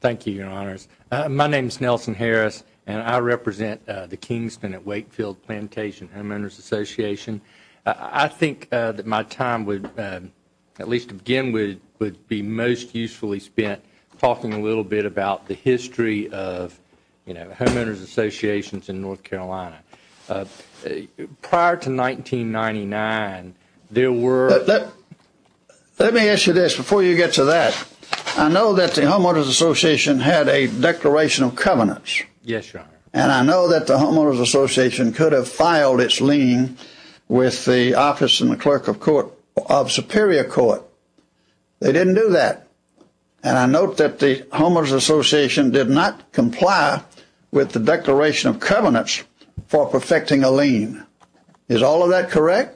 Thank you, your honors. My name is Nelson Harris, and I represent the Kingston at Wakefield Plantation Homeowners Association. I think that my time would, at least to begin with, would be most usefully spent talking a little bit about the history of, you know, homeowners associations in North Carolina. Prior to 1999, there were... Let me ask you this before you get to that. I know that the homeowners association had a declaration of covenants. Yes, your honor. And I know that the homeowners association could have filed its lien with the office and the clerk of superior court. They didn't do that. And I note that the homeowners association did not comply with the declaration of covenants for perfecting a lien. Is all of that correct?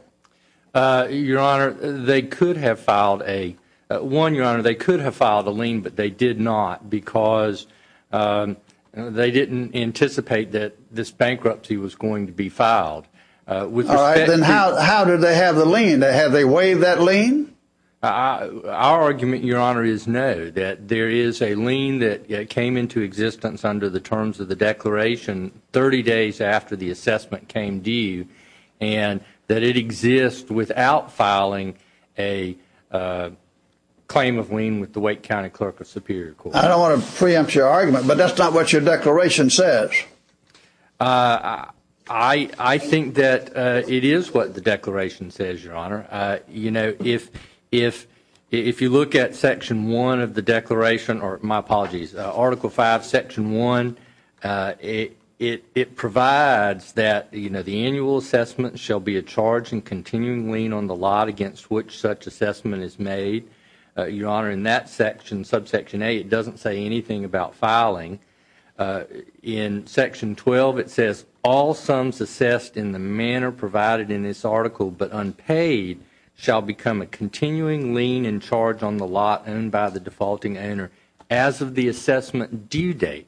Your honor, they could have filed a... One, your honor, they could have filed a lien, but they did not because they didn't anticipate that this bankruptcy was going to be filed. All right, then how did they have the lien? Did they waive that lien? Our argument, your honor, is no. That there is a lien that came into existence under the terms of the declaration 30 days after the assessment came due, and that it exists without filing a claim of lien with the Wake County clerk of superior court. I don't want to preempt your argument, but that's not what your declaration says. I think that it is what the declaration says, your honor. You know, if you look at section 1 of the declaration, or my apologies, article 5, section 1, it provides that, you know, the annual assessment shall be a charge in continuing lien on the lot against which such assessment is made. Your honor, in that section, subsection 8, it doesn't say anything about filing. In section 12, it says, all sums assessed in the manner provided in this article but unpaid shall become a continuing lien in charge on the lot owned by the defaulting owner as of the assessment due date,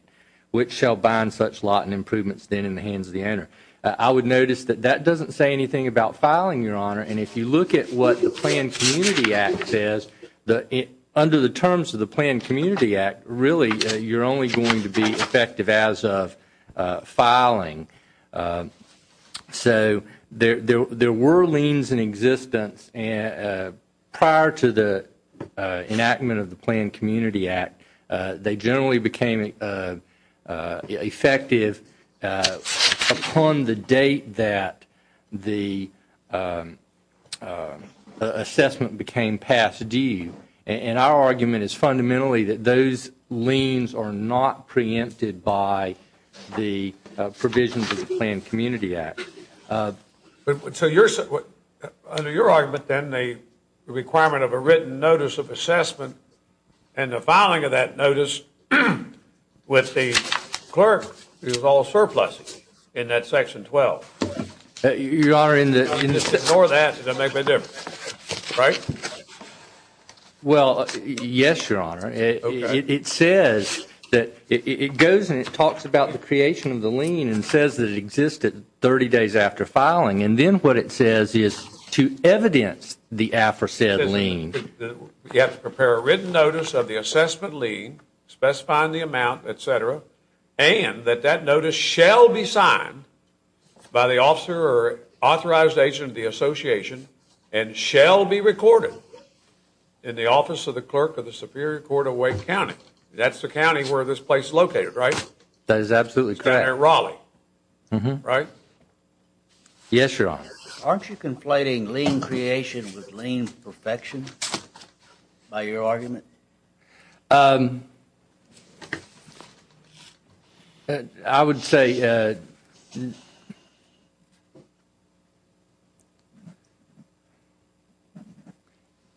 which shall bind such lot and improvements then in the hands of the owner. I would notice that that doesn't say anything about filing, your honor, and if you look at what the Planned Community Act says, under the terms of the Planned Community Act, really you're only going to be effective as of filing. So there were liens in existence prior to the enactment of the Planned Community Act. They generally became effective upon the date that the assessment became past due, and our argument is fundamentally that those liens are not preempted by the provisions of the Planned Community Act. So under your argument then, the requirement of a written notice of assessment and the filing of that notice with the clerk is all surplus in that section 12. Your honor, in the Ignore that. It doesn't make a big difference. Right? Well, yes, your honor. It says that it goes and it talks about the creation of the lien and says that it existed 30 days after filing, and then what it says is to evidence the aforesaid lien. We have to prepare a written notice of the assessment lien specifying the amount, et cetera, and that that notice shall be signed by the officer or authorized agent of the association and shall be recorded in the office of the clerk of the Superior Court of Wake County. That's the county where this place is located, right? That is absolutely correct. It's down in Raleigh, right? Yes, your honor. Aren't you conflating lien creation with lien perfection by your argument? Um, I would say,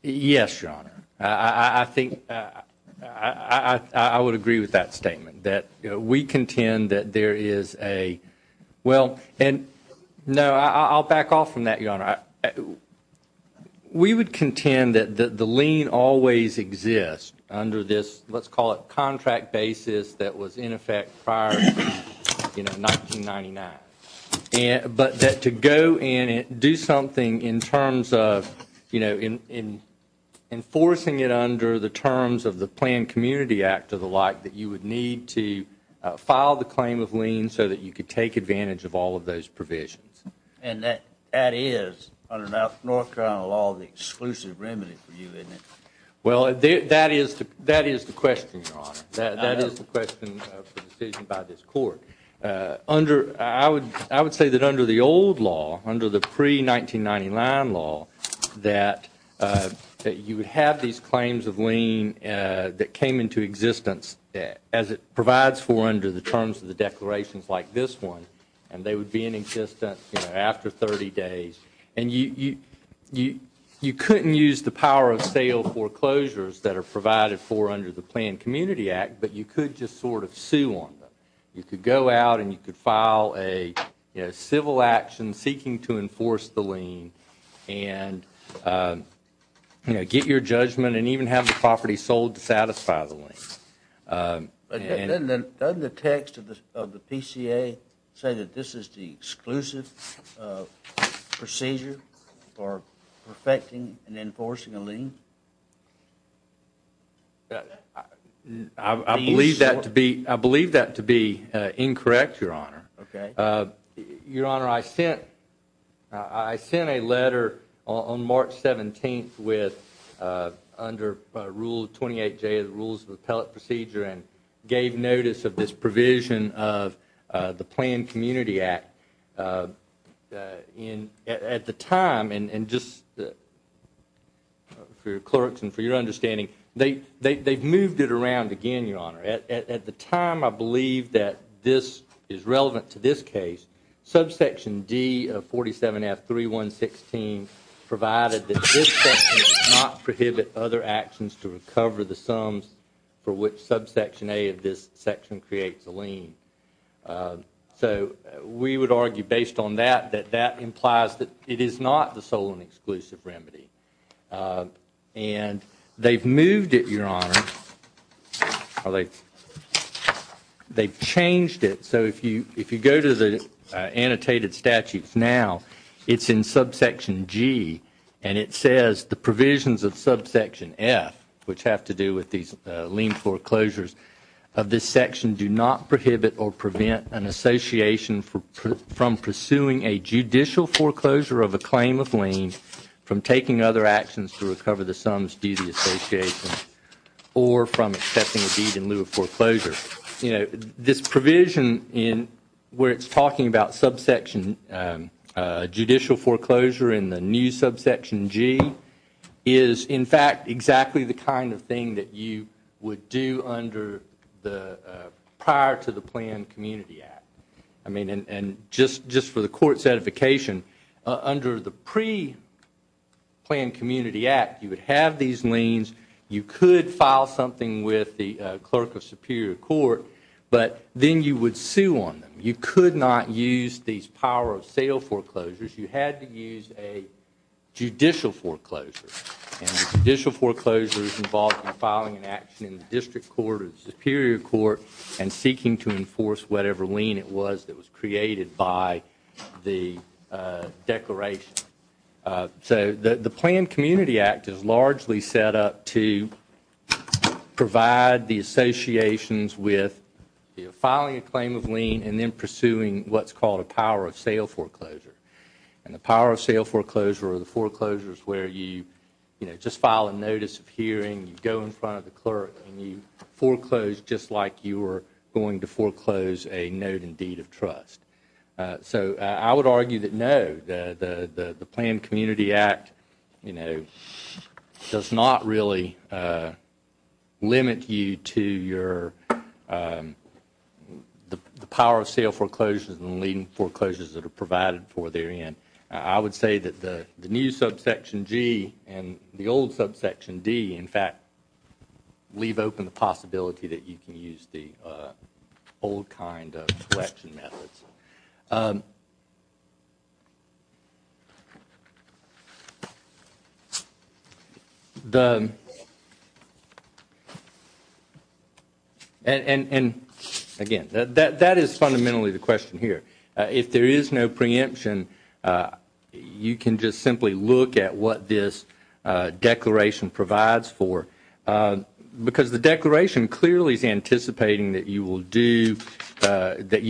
yes, your honor. I think I would agree with that statement that we contend that there is a well, and no, I'll back off from that, your honor. We would contend that the lien always exists under this, let's call it contract basis, that was in effect prior, you know, 1999, but that to go in and do something in terms of, you know, enforcing it under the terms of the Planned Community Act or the like, that you would need to file the claim of lien so that you could take advantage of all of those provisions. And that is, under North Carolina law, the exclusive remedy for you, isn't it? Well, that is the question, your honor. That is the question of the decision by this court. I would say that under the old law, under the pre-1999 law, that you would have these claims of lien that came into existence as it provides for under the terms of the declarations like this one, and they would be in existence, you know, after 30 days. And you couldn't use the power of sale foreclosures that are provided for under the Planned Community Act, but you could just sort of sue on them. You could go out and you could file a civil action seeking to enforce the lien and, you know, get your judgment and even have the property sold to satisfy the lien. Doesn't the text of the PCA say that this is the exclusive procedure for perfecting and enforcing a lien? I believe that to be incorrect, your honor. Okay. and gave notice of this provision of the Planned Community Act. At the time, and just for your clerks and for your understanding, they've moved it around again, your honor. At the time, I believe that this is relevant to this case. Subsection D of 47F3116 provided that this section does not prohibit other actions to recover the sums for which subsection A of this section creates a lien. So we would argue based on that that that implies that it is not the sole and exclusive remedy. And they've moved it, your honor, or they've changed it. So if you go to the annotated statutes now, it's in subsection G, and it says the provisions of subsection F, which have to do with these lien foreclosures of this section, do not prohibit or prevent an association from pursuing a judicial foreclosure of a claim of lien, from taking other actions to recover the sums due to the association, or from accepting a deed in lieu of foreclosure. This provision where it's talking about judicial foreclosure in the new subsection G is, in fact, exactly the kind of thing that you would do prior to the Planned Community Act. Just for the court's edification, under the pre-Planned Community Act, you would have these liens. You could file something with the clerk of superior court, but then you would sue on them. You could not use these power of sale foreclosures. You had to use a judicial foreclosure, and a judicial foreclosure is involved in filing an action in the district court or the superior court and seeking to enforce whatever lien it was that was created by the declaration. The Planned Community Act is largely set up to provide the associations with filing a claim of lien and then pursuing what's called a power of sale foreclosure. The power of sale foreclosure or the foreclosure is where you just file a notice of hearing, you go in front of the clerk, and you foreclose just like you were going to foreclose a note and deed of trust. I would argue that, no, the Planned Community Act does not really limit you to the power of sale foreclosures and the lien foreclosures that are provided for therein. I would say that the new Subsection G and the old Subsection D, in fact, leave open the possibility that you can use the old kind of collection methods. Again, that is fundamentally the question here. If there is no preemption, you can just simply look at what this declaration provides for because the declaration clearly is anticipating that you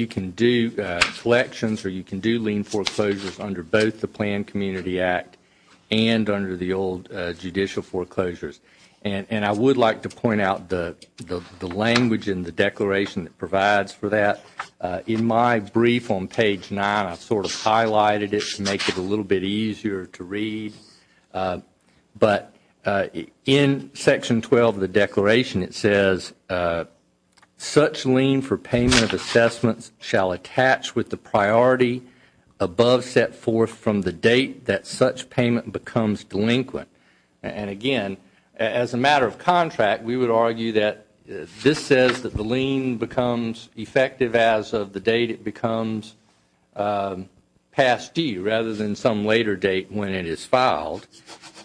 can do collections or you can do lien foreclosures under both the Planned Community Act and under the old judicial foreclosures. I would like to point out the language in the declaration that provides for that. In my brief on page 9, I sort of highlighted it to make it a little bit easier to read. But in Section 12 of the declaration, it says, such lien for payment of assessments shall attach with the priority above set forth from the date that such payment becomes delinquent. Again, as a matter of contract, we would argue that this says that the lien becomes effective as of the date it becomes past due rather than some later date when it is filed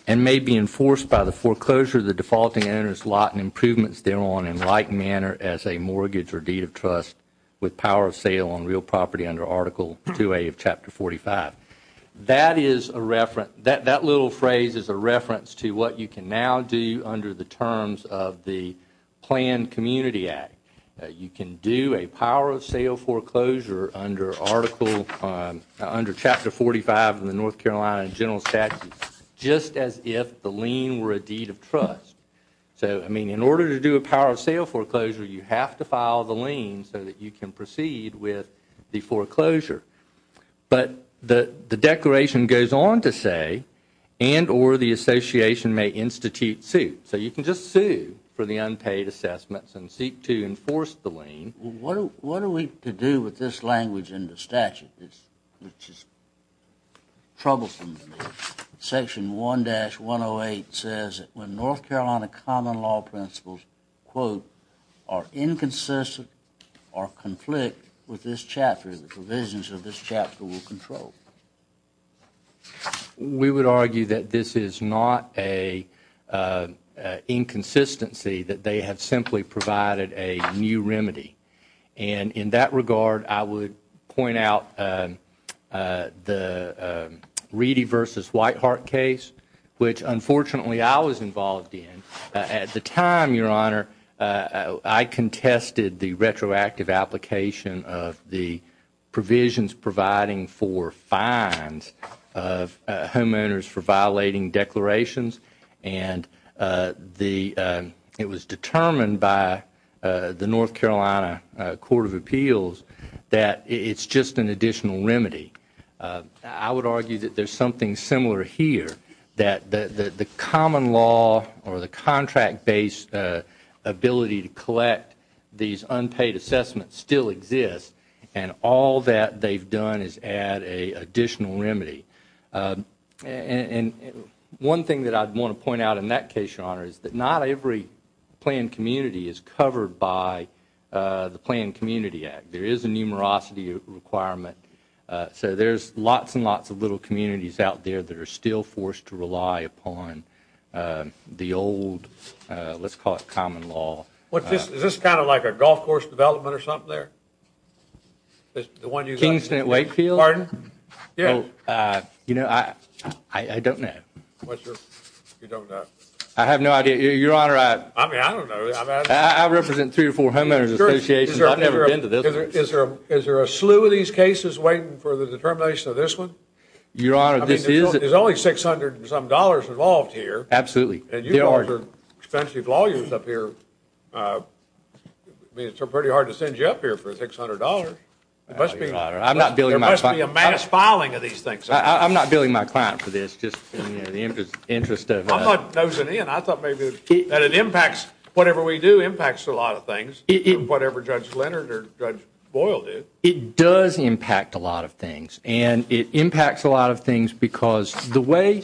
and may be enforced by the foreclosure of the defaulting owner's lot and improvements thereon in like manner as a mortgage or deed of trust with power of sale on real property under Article 2A of Chapter 45. That little phrase is a reference to what you can now do under the terms of the Planned Community Act. You can do a power of sale foreclosure under Chapter 45 of the North Carolina General Statutes just as if the lien were a deed of trust. In order to do a power of sale foreclosure, you have to file the lien so that you can proceed with the foreclosure. But the declaration goes on to say, and or the association may institute suit. So you can just sue for the unpaid assessments and seek to enforce the lien. What are we to do with this language in the statute? It's just troublesome. Section 1-108 says that when North Carolina common law principles, quote, are inconsistent or conflict with this chapter, the provisions of this chapter will control. We would argue that this is not an inconsistency, that they have simply provided a new remedy. And in that regard, I would point out the Reedy v. Whitehart case, which, unfortunately, I was involved in. At the time, Your Honor, I contested the retroactive application of the provisions providing for fines of homeowners for violating declarations. And it was determined by the North Carolina Court of Appeals that it's just an additional remedy. I would argue that there's something similar here, that the common law or the contract-based ability to collect these unpaid assessments still exists, and all that they've done is add an additional remedy. And one thing that I'd want to point out in that case, Your Honor, is that not every planned community is covered by the Planned Community Act. There is a numerosity requirement. So there's lots and lots of little communities out there that are still forced to rely upon the old, let's call it, common law. Is this kind of like a golf course development or something there? Kingston at Wakefield? Pardon? You know, I don't know. I have no idea. Your Honor, I represent three or four homeowners associations. I've never been to this one. Is there a slew of these cases waiting for the determination of this one? Your Honor, this is a— I mean, there's only $600 and some dollars involved here. Absolutely. And you guys are expensive lawyers up here. I mean, it's pretty hard to send you up here for $600. There must be a mass filing of these things. I'm not billing my client for this, just in the interest of— I'm not nosing in. I thought maybe that it impacts whatever we do impacts a lot of things, whatever Judge Leonard or Judge Boyle did. It does impact a lot of things, and it impacts a lot of things because the way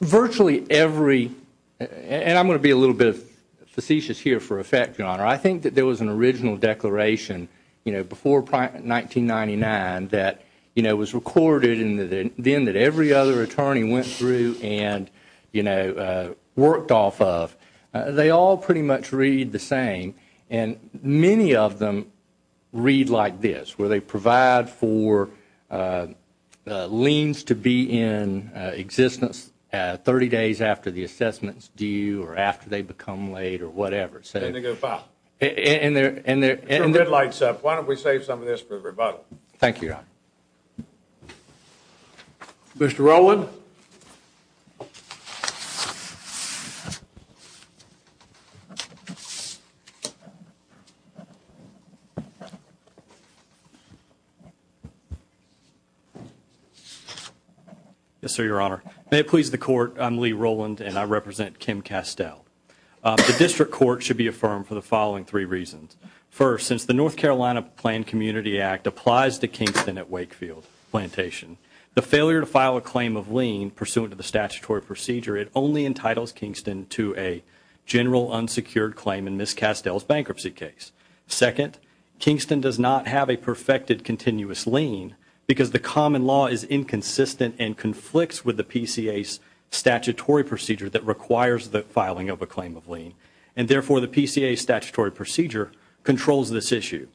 virtually every— and I'm going to be a little bit facetious here for effect, Your Honor. I think that there was an original declaration, you know, before 1999 that, you know, was recorded and then that every other attorney went through and, you know, worked off of. They all pretty much read the same, and many of them read like this, where they provide for liens to be in existence 30 days after the assessment is due or after they become laid or whatever. And they're— Get your red lights up. Why don't we save some of this for the rebuttal? Thank you, Your Honor. Mr. Rowland? Yes, sir, Your Honor. May it please the Court, I'm Lee Rowland, and I represent Kim Castell. The District Court should be affirmed for the following three reasons. First, since the North Carolina Planned Community Act applies to Kingston at Wakefield Plantation, the failure to file a claim of lien pursuant to the statutory procedure, it only entitles Kingston to a general unsecured claim in Ms. Castell's bankruptcy case. Second, Kingston does not have a perfected continuous lien because the common law is inconsistent and conflicts with the PCA's statutory procedure that requires the filing of a claim of lien, and therefore the PCA's statutory procedure controls this issue.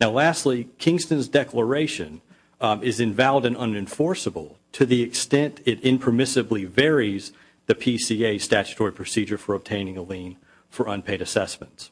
Now, lastly, Kingston's declaration is invalid and unenforceable to the extent it impermissibly varies the PCA's statutory procedure for obtaining a lien for unpaid assessments.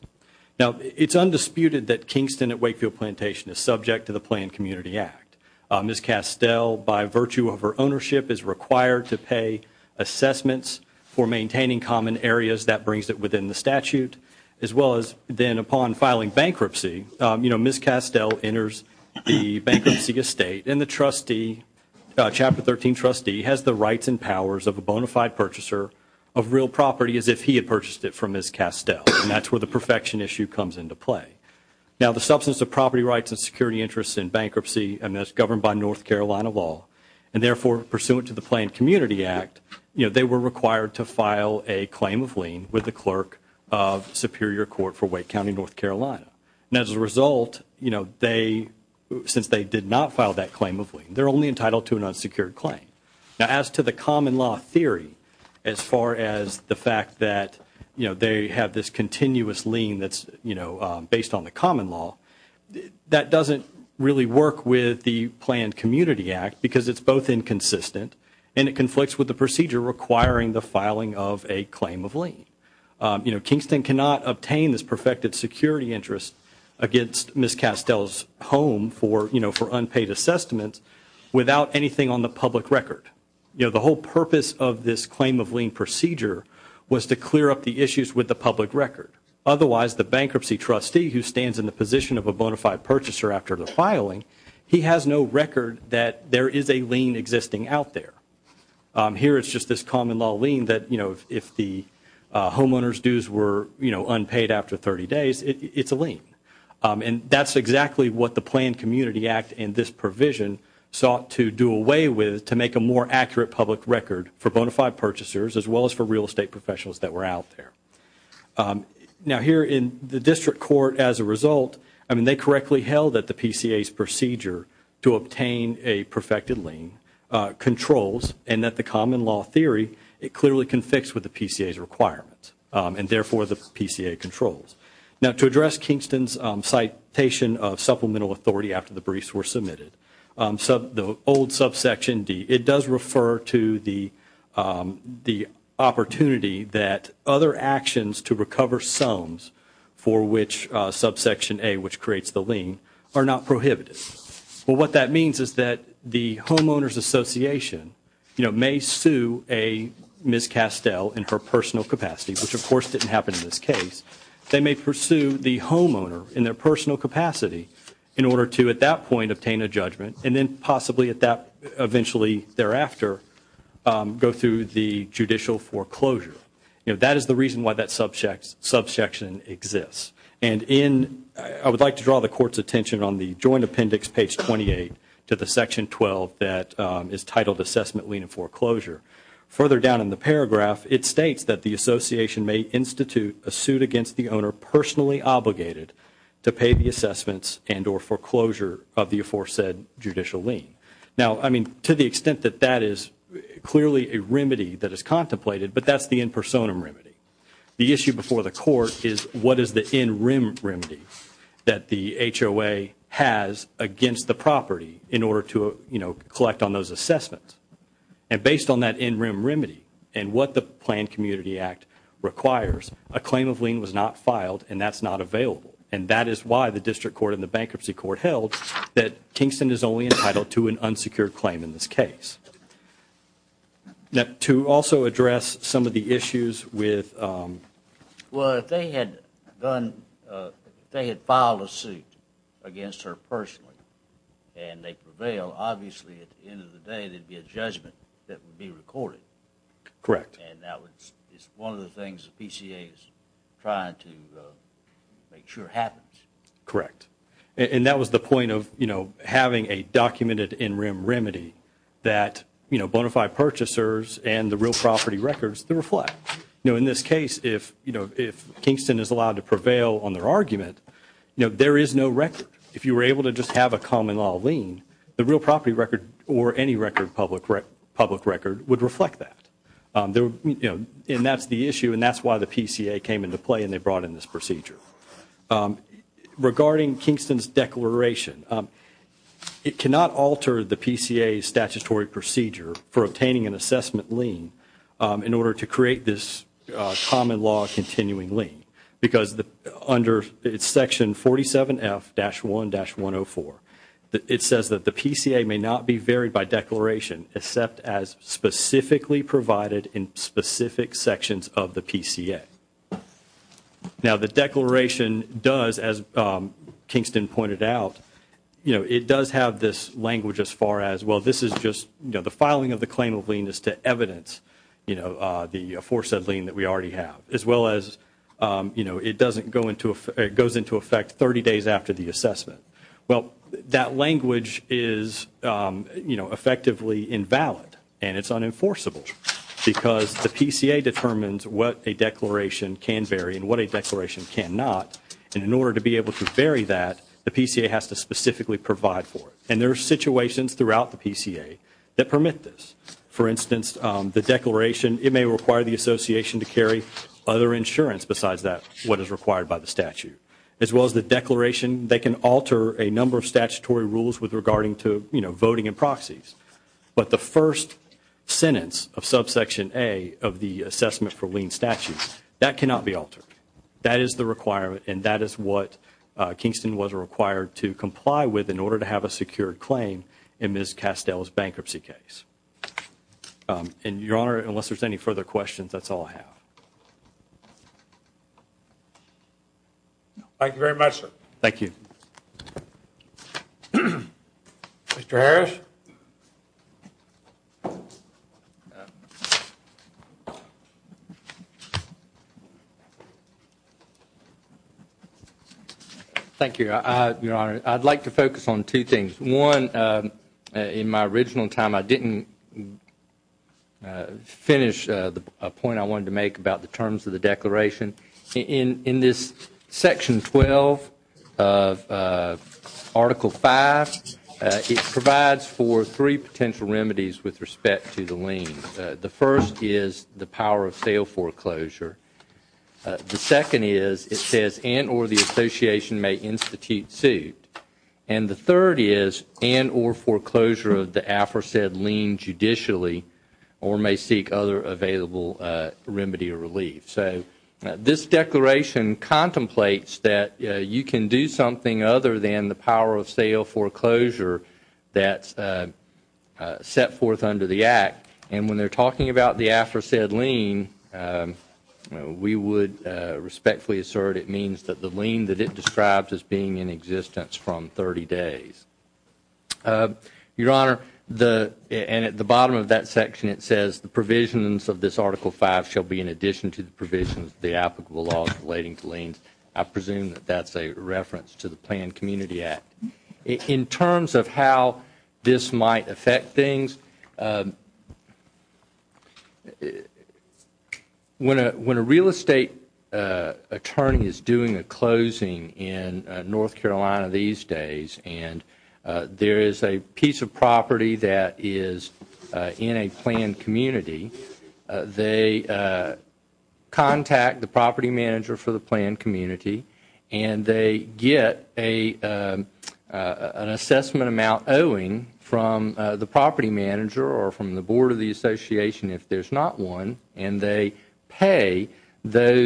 Now, it's undisputed that Kingston at Wakefield Plantation is subject to the Planned Community Act. Ms. Castell, by virtue of her ownership, is required to pay assessments for maintaining common areas. That brings it within the statute. As well as then upon filing bankruptcy, you know, Ms. Castell enters the bankruptcy estate and the trustee, Chapter 13 trustee, has the rights and powers of a bona fide purchaser of real property as if he had purchased it from Ms. Castell, and that's where the perfection issue comes into play. Now, the substance of property rights and security interests in bankruptcy is governed by North Carolina law, and therefore pursuant to the Planned Community Act, you know, they were required to file a claim of lien with the clerk of Superior Court for Wake County, North Carolina. And as a result, you know, since they did not file that claim of lien, they're only entitled to an unsecured claim. Now, as to the common law theory, as far as the fact that, you know, they have this continuous lien that's, you know, based on the common law, that doesn't really work with the Planned Community Act because it's both inconsistent and it conflicts with the procedure requiring the filing of a claim of lien. You know, Kingston cannot obtain this perfected security interest against Ms. Castell's home for, you know, for unpaid assessments without anything on the public record. You know, the whole purpose of this claim of lien procedure was to clear up the issues with the public record. Otherwise, the bankruptcy trustee who stands in the position of a bona fide purchaser after the filing, he has no record that there is a lien existing out there. Here it's just this common law lien that, you know, if the homeowner's dues were, you know, unpaid after 30 days, it's a lien. And that's exactly what the Planned Community Act and this provision sought to do away with to make a more accurate public record for bona fide purchasers as well as for real estate professionals that were out there. Now, here in the district court as a result, I mean, they correctly held that the PCA's procedure to obtain a perfected lien controls and that the common law theory, it clearly conflicts with the PCA's requirements and therefore the PCA controls. Now, to address Kingston's citation of supplemental authority after the briefs were submitted, the old subsection D, it does refer to the opportunity that other actions to recover sums for which subsection A, which creates the lien, are not prohibited. Well, what that means is that the homeowner's association, you know, may sue a Ms. Castell in her personal capacity, which of course didn't happen in this case. They may pursue the homeowner in their personal capacity in order to at that point obtain a judgment and then possibly at that, eventually thereafter, go through the judicial foreclosure. You know, that is the reason why that subsection exists. And in, I would like to draw the court's attention on the joint appendix, page 28, to the section 12 that is titled assessment lien and foreclosure. Further down in the paragraph, it states that the association may institute a suit against the owner personally obligated to pay the assessments and or foreclosure of the aforesaid judicial lien. Now, I mean, to the extent that that is clearly a remedy that is contemplated, but that is the in personam remedy. The issue before the court is what is the in rem remedy that the HOA has against the property in order to, you know, collect on those assessments. And based on that in rem remedy and what the Planned Community Act requires, a claim of lien was not filed and that's not available. And that is why the District Court and the Bankruptcy Court held that Kingston is only entitled to an unsecured claim in this case. To also address some of the issues with Well, if they had filed a suit against her personally and they prevail, obviously at the end of the day there would be a judgment that would be recorded. Correct. And that is one of the things the PCA is trying to make sure happens. Correct. And that was the point of, you know, having a documented in rem remedy that, you know, bona fide purchasers and the real property records to reflect. You know, in this case, if, you know, if Kingston is allowed to prevail on their argument, you know, there is no record. If you were able to just have a common law lien, the real property record or any record public record would reflect that. You know, and that's the issue and that's why the PCA came into play and they brought in this procedure. Regarding Kingston's declaration, it cannot alter the PCA's statutory procedure for obtaining an assessment lien in order to create this common law continuing lien. Because under section 47F-1-104, it says that the PCA may not be varied by declaration except as specifically provided in specific sections of the PCA. Now, the declaration does, as Kingston pointed out, you know, it does have this language as far as, well, this is just, you know, the filing of the claim of lien is to evidence, you know, the foresaid lien that we already have as well as, you know, it doesn't go into, it goes into effect 30 days after the assessment. Well, that language is, you know, effectively invalid and it's unenforceable because the PCA determines what a declaration can vary and what a declaration cannot. And in order to be able to vary that, the PCA has to specifically provide for it. And there are situations throughout the PCA that permit this. For instance, the declaration, it may require the association to carry other insurance besides that, what is required by the statute, as well as the declaration, they can alter a number of statutory rules with regarding to, you know, voting and proxies. But the first sentence of subsection A of the assessment for lien statute, that cannot be altered. That is the requirement and that is what Kingston was required to comply with in order to have a secured claim in Ms. Castell's bankruptcy case. And, Your Honor, unless there's any further questions, that's all I have. Thank you very much, sir. Thank you. Thank you, Your Honor. Your Honor, I'd like to focus on two things. One, in my original time, I didn't finish the point I wanted to make about the terms of the declaration. In this Section 12 of Article 5, it provides for three potential remedies with respect to the lien. The first is the power of sale foreclosure. The second is it says and or the association may institute suit. And the third is and or foreclosure of the aforesaid lien judicially or may seek other available remedy or relief. So this declaration contemplates that you can do something other than the power of sale foreclosure that's set forth under the Act. And when they're talking about the aforesaid lien, we would respectfully assert it means that the lien that it describes as being in existence from 30 days. Your Honor, and at the bottom of that section it says the provisions of this Article 5 shall be in addition to the provisions of the applicable laws relating to liens. I presume that that's a reference to the Planned Community Act. In terms of how this might affect things, when a real estate attorney is doing a closing in North Carolina these days and there is a piece of property that is in a planned community, they contact the property manager for the planned community and they get an assessment amount owing from the property manager or from the board of the association if there's not one and they pay that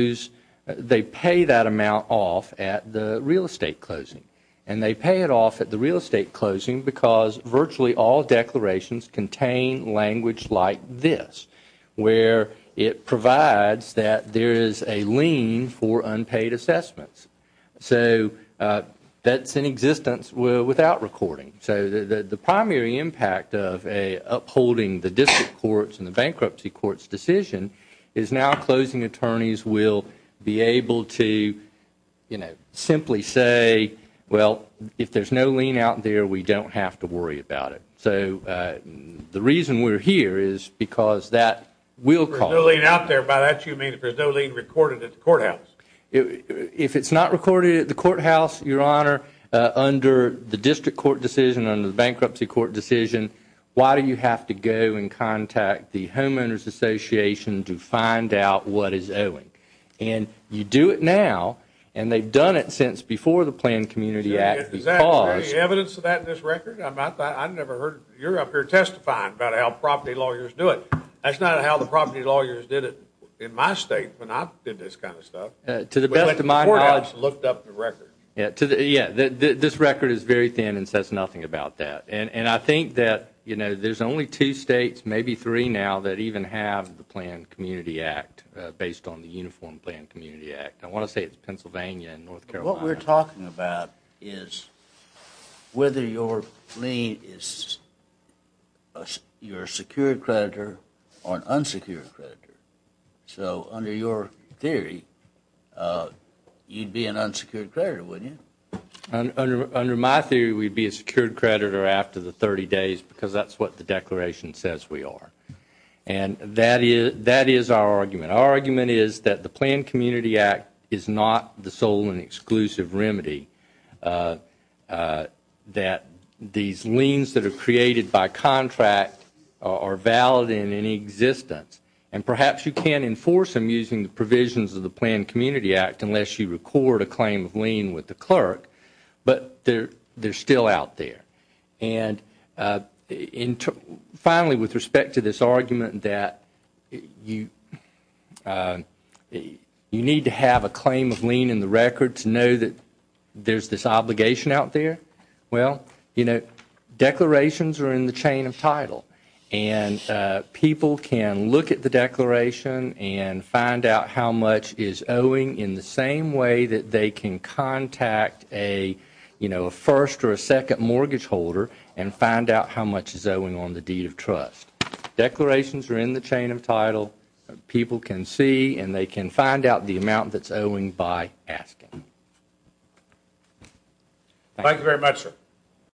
amount off at the real estate closing. And they pay it off at the real estate closing because virtually all declarations contain language like this where it provides that there is a lien for unpaid assessments. So that's in existence without recording. So the primary impact of upholding the district courts and the bankruptcy courts' decision is now closing attorneys will be able to simply say, well, if there's no lien out there, we don't have to worry about it. So the reason we're here is because that will cause... If there's no lien out there, by that you mean if there's no lien recorded at the courthouse. If it's not recorded at the courthouse, Your Honor, under the district court decision, under the bankruptcy court decision, why do you have to go and contact the homeowners association to find out what is owing? And you do it now, and they've done it since before the Planned Community Act because... Is there any evidence of that in this record? I never heard you're up here testifying about how property lawyers do it. That's not how the property lawyers did it in my state when I did this kind of stuff. To the best of my knowledge... Before I looked up the record. Yeah, this record is very thin and says nothing about that. And I think that, you know, there's only two states, maybe three now, that even have the Planned Community Act based on the Uniform Planned Community Act. I want to say it's Pennsylvania and North Carolina. What we're talking about is whether your lien is your secured creditor or an unsecured creditor. So under your theory, you'd be an unsecured creditor, wouldn't you? Under my theory, we'd be a secured creditor after the 30 days because that's what the declaration says we are. And that is our argument. Our argument is that the Planned Community Act is not the sole and exclusive remedy, that these liens that are created by contract are valid in any existence. And perhaps you can enforce them using the provisions of the Planned Community Act unless you record a claim of lien with the clerk. But they're still out there. And finally, with respect to this argument that you need to have a claim of lien in the record to know that there's this obligation out there, well, you know, declarations are in the chain of title. And people can look at the declaration and find out how much is owing in the same way that they can contact a first or a second mortgage holder and find out how much is owing on the deed of trust. Declarations are in the chain of title. People can see and they can find out the amount that's owing by asking. Thank you very much, sir.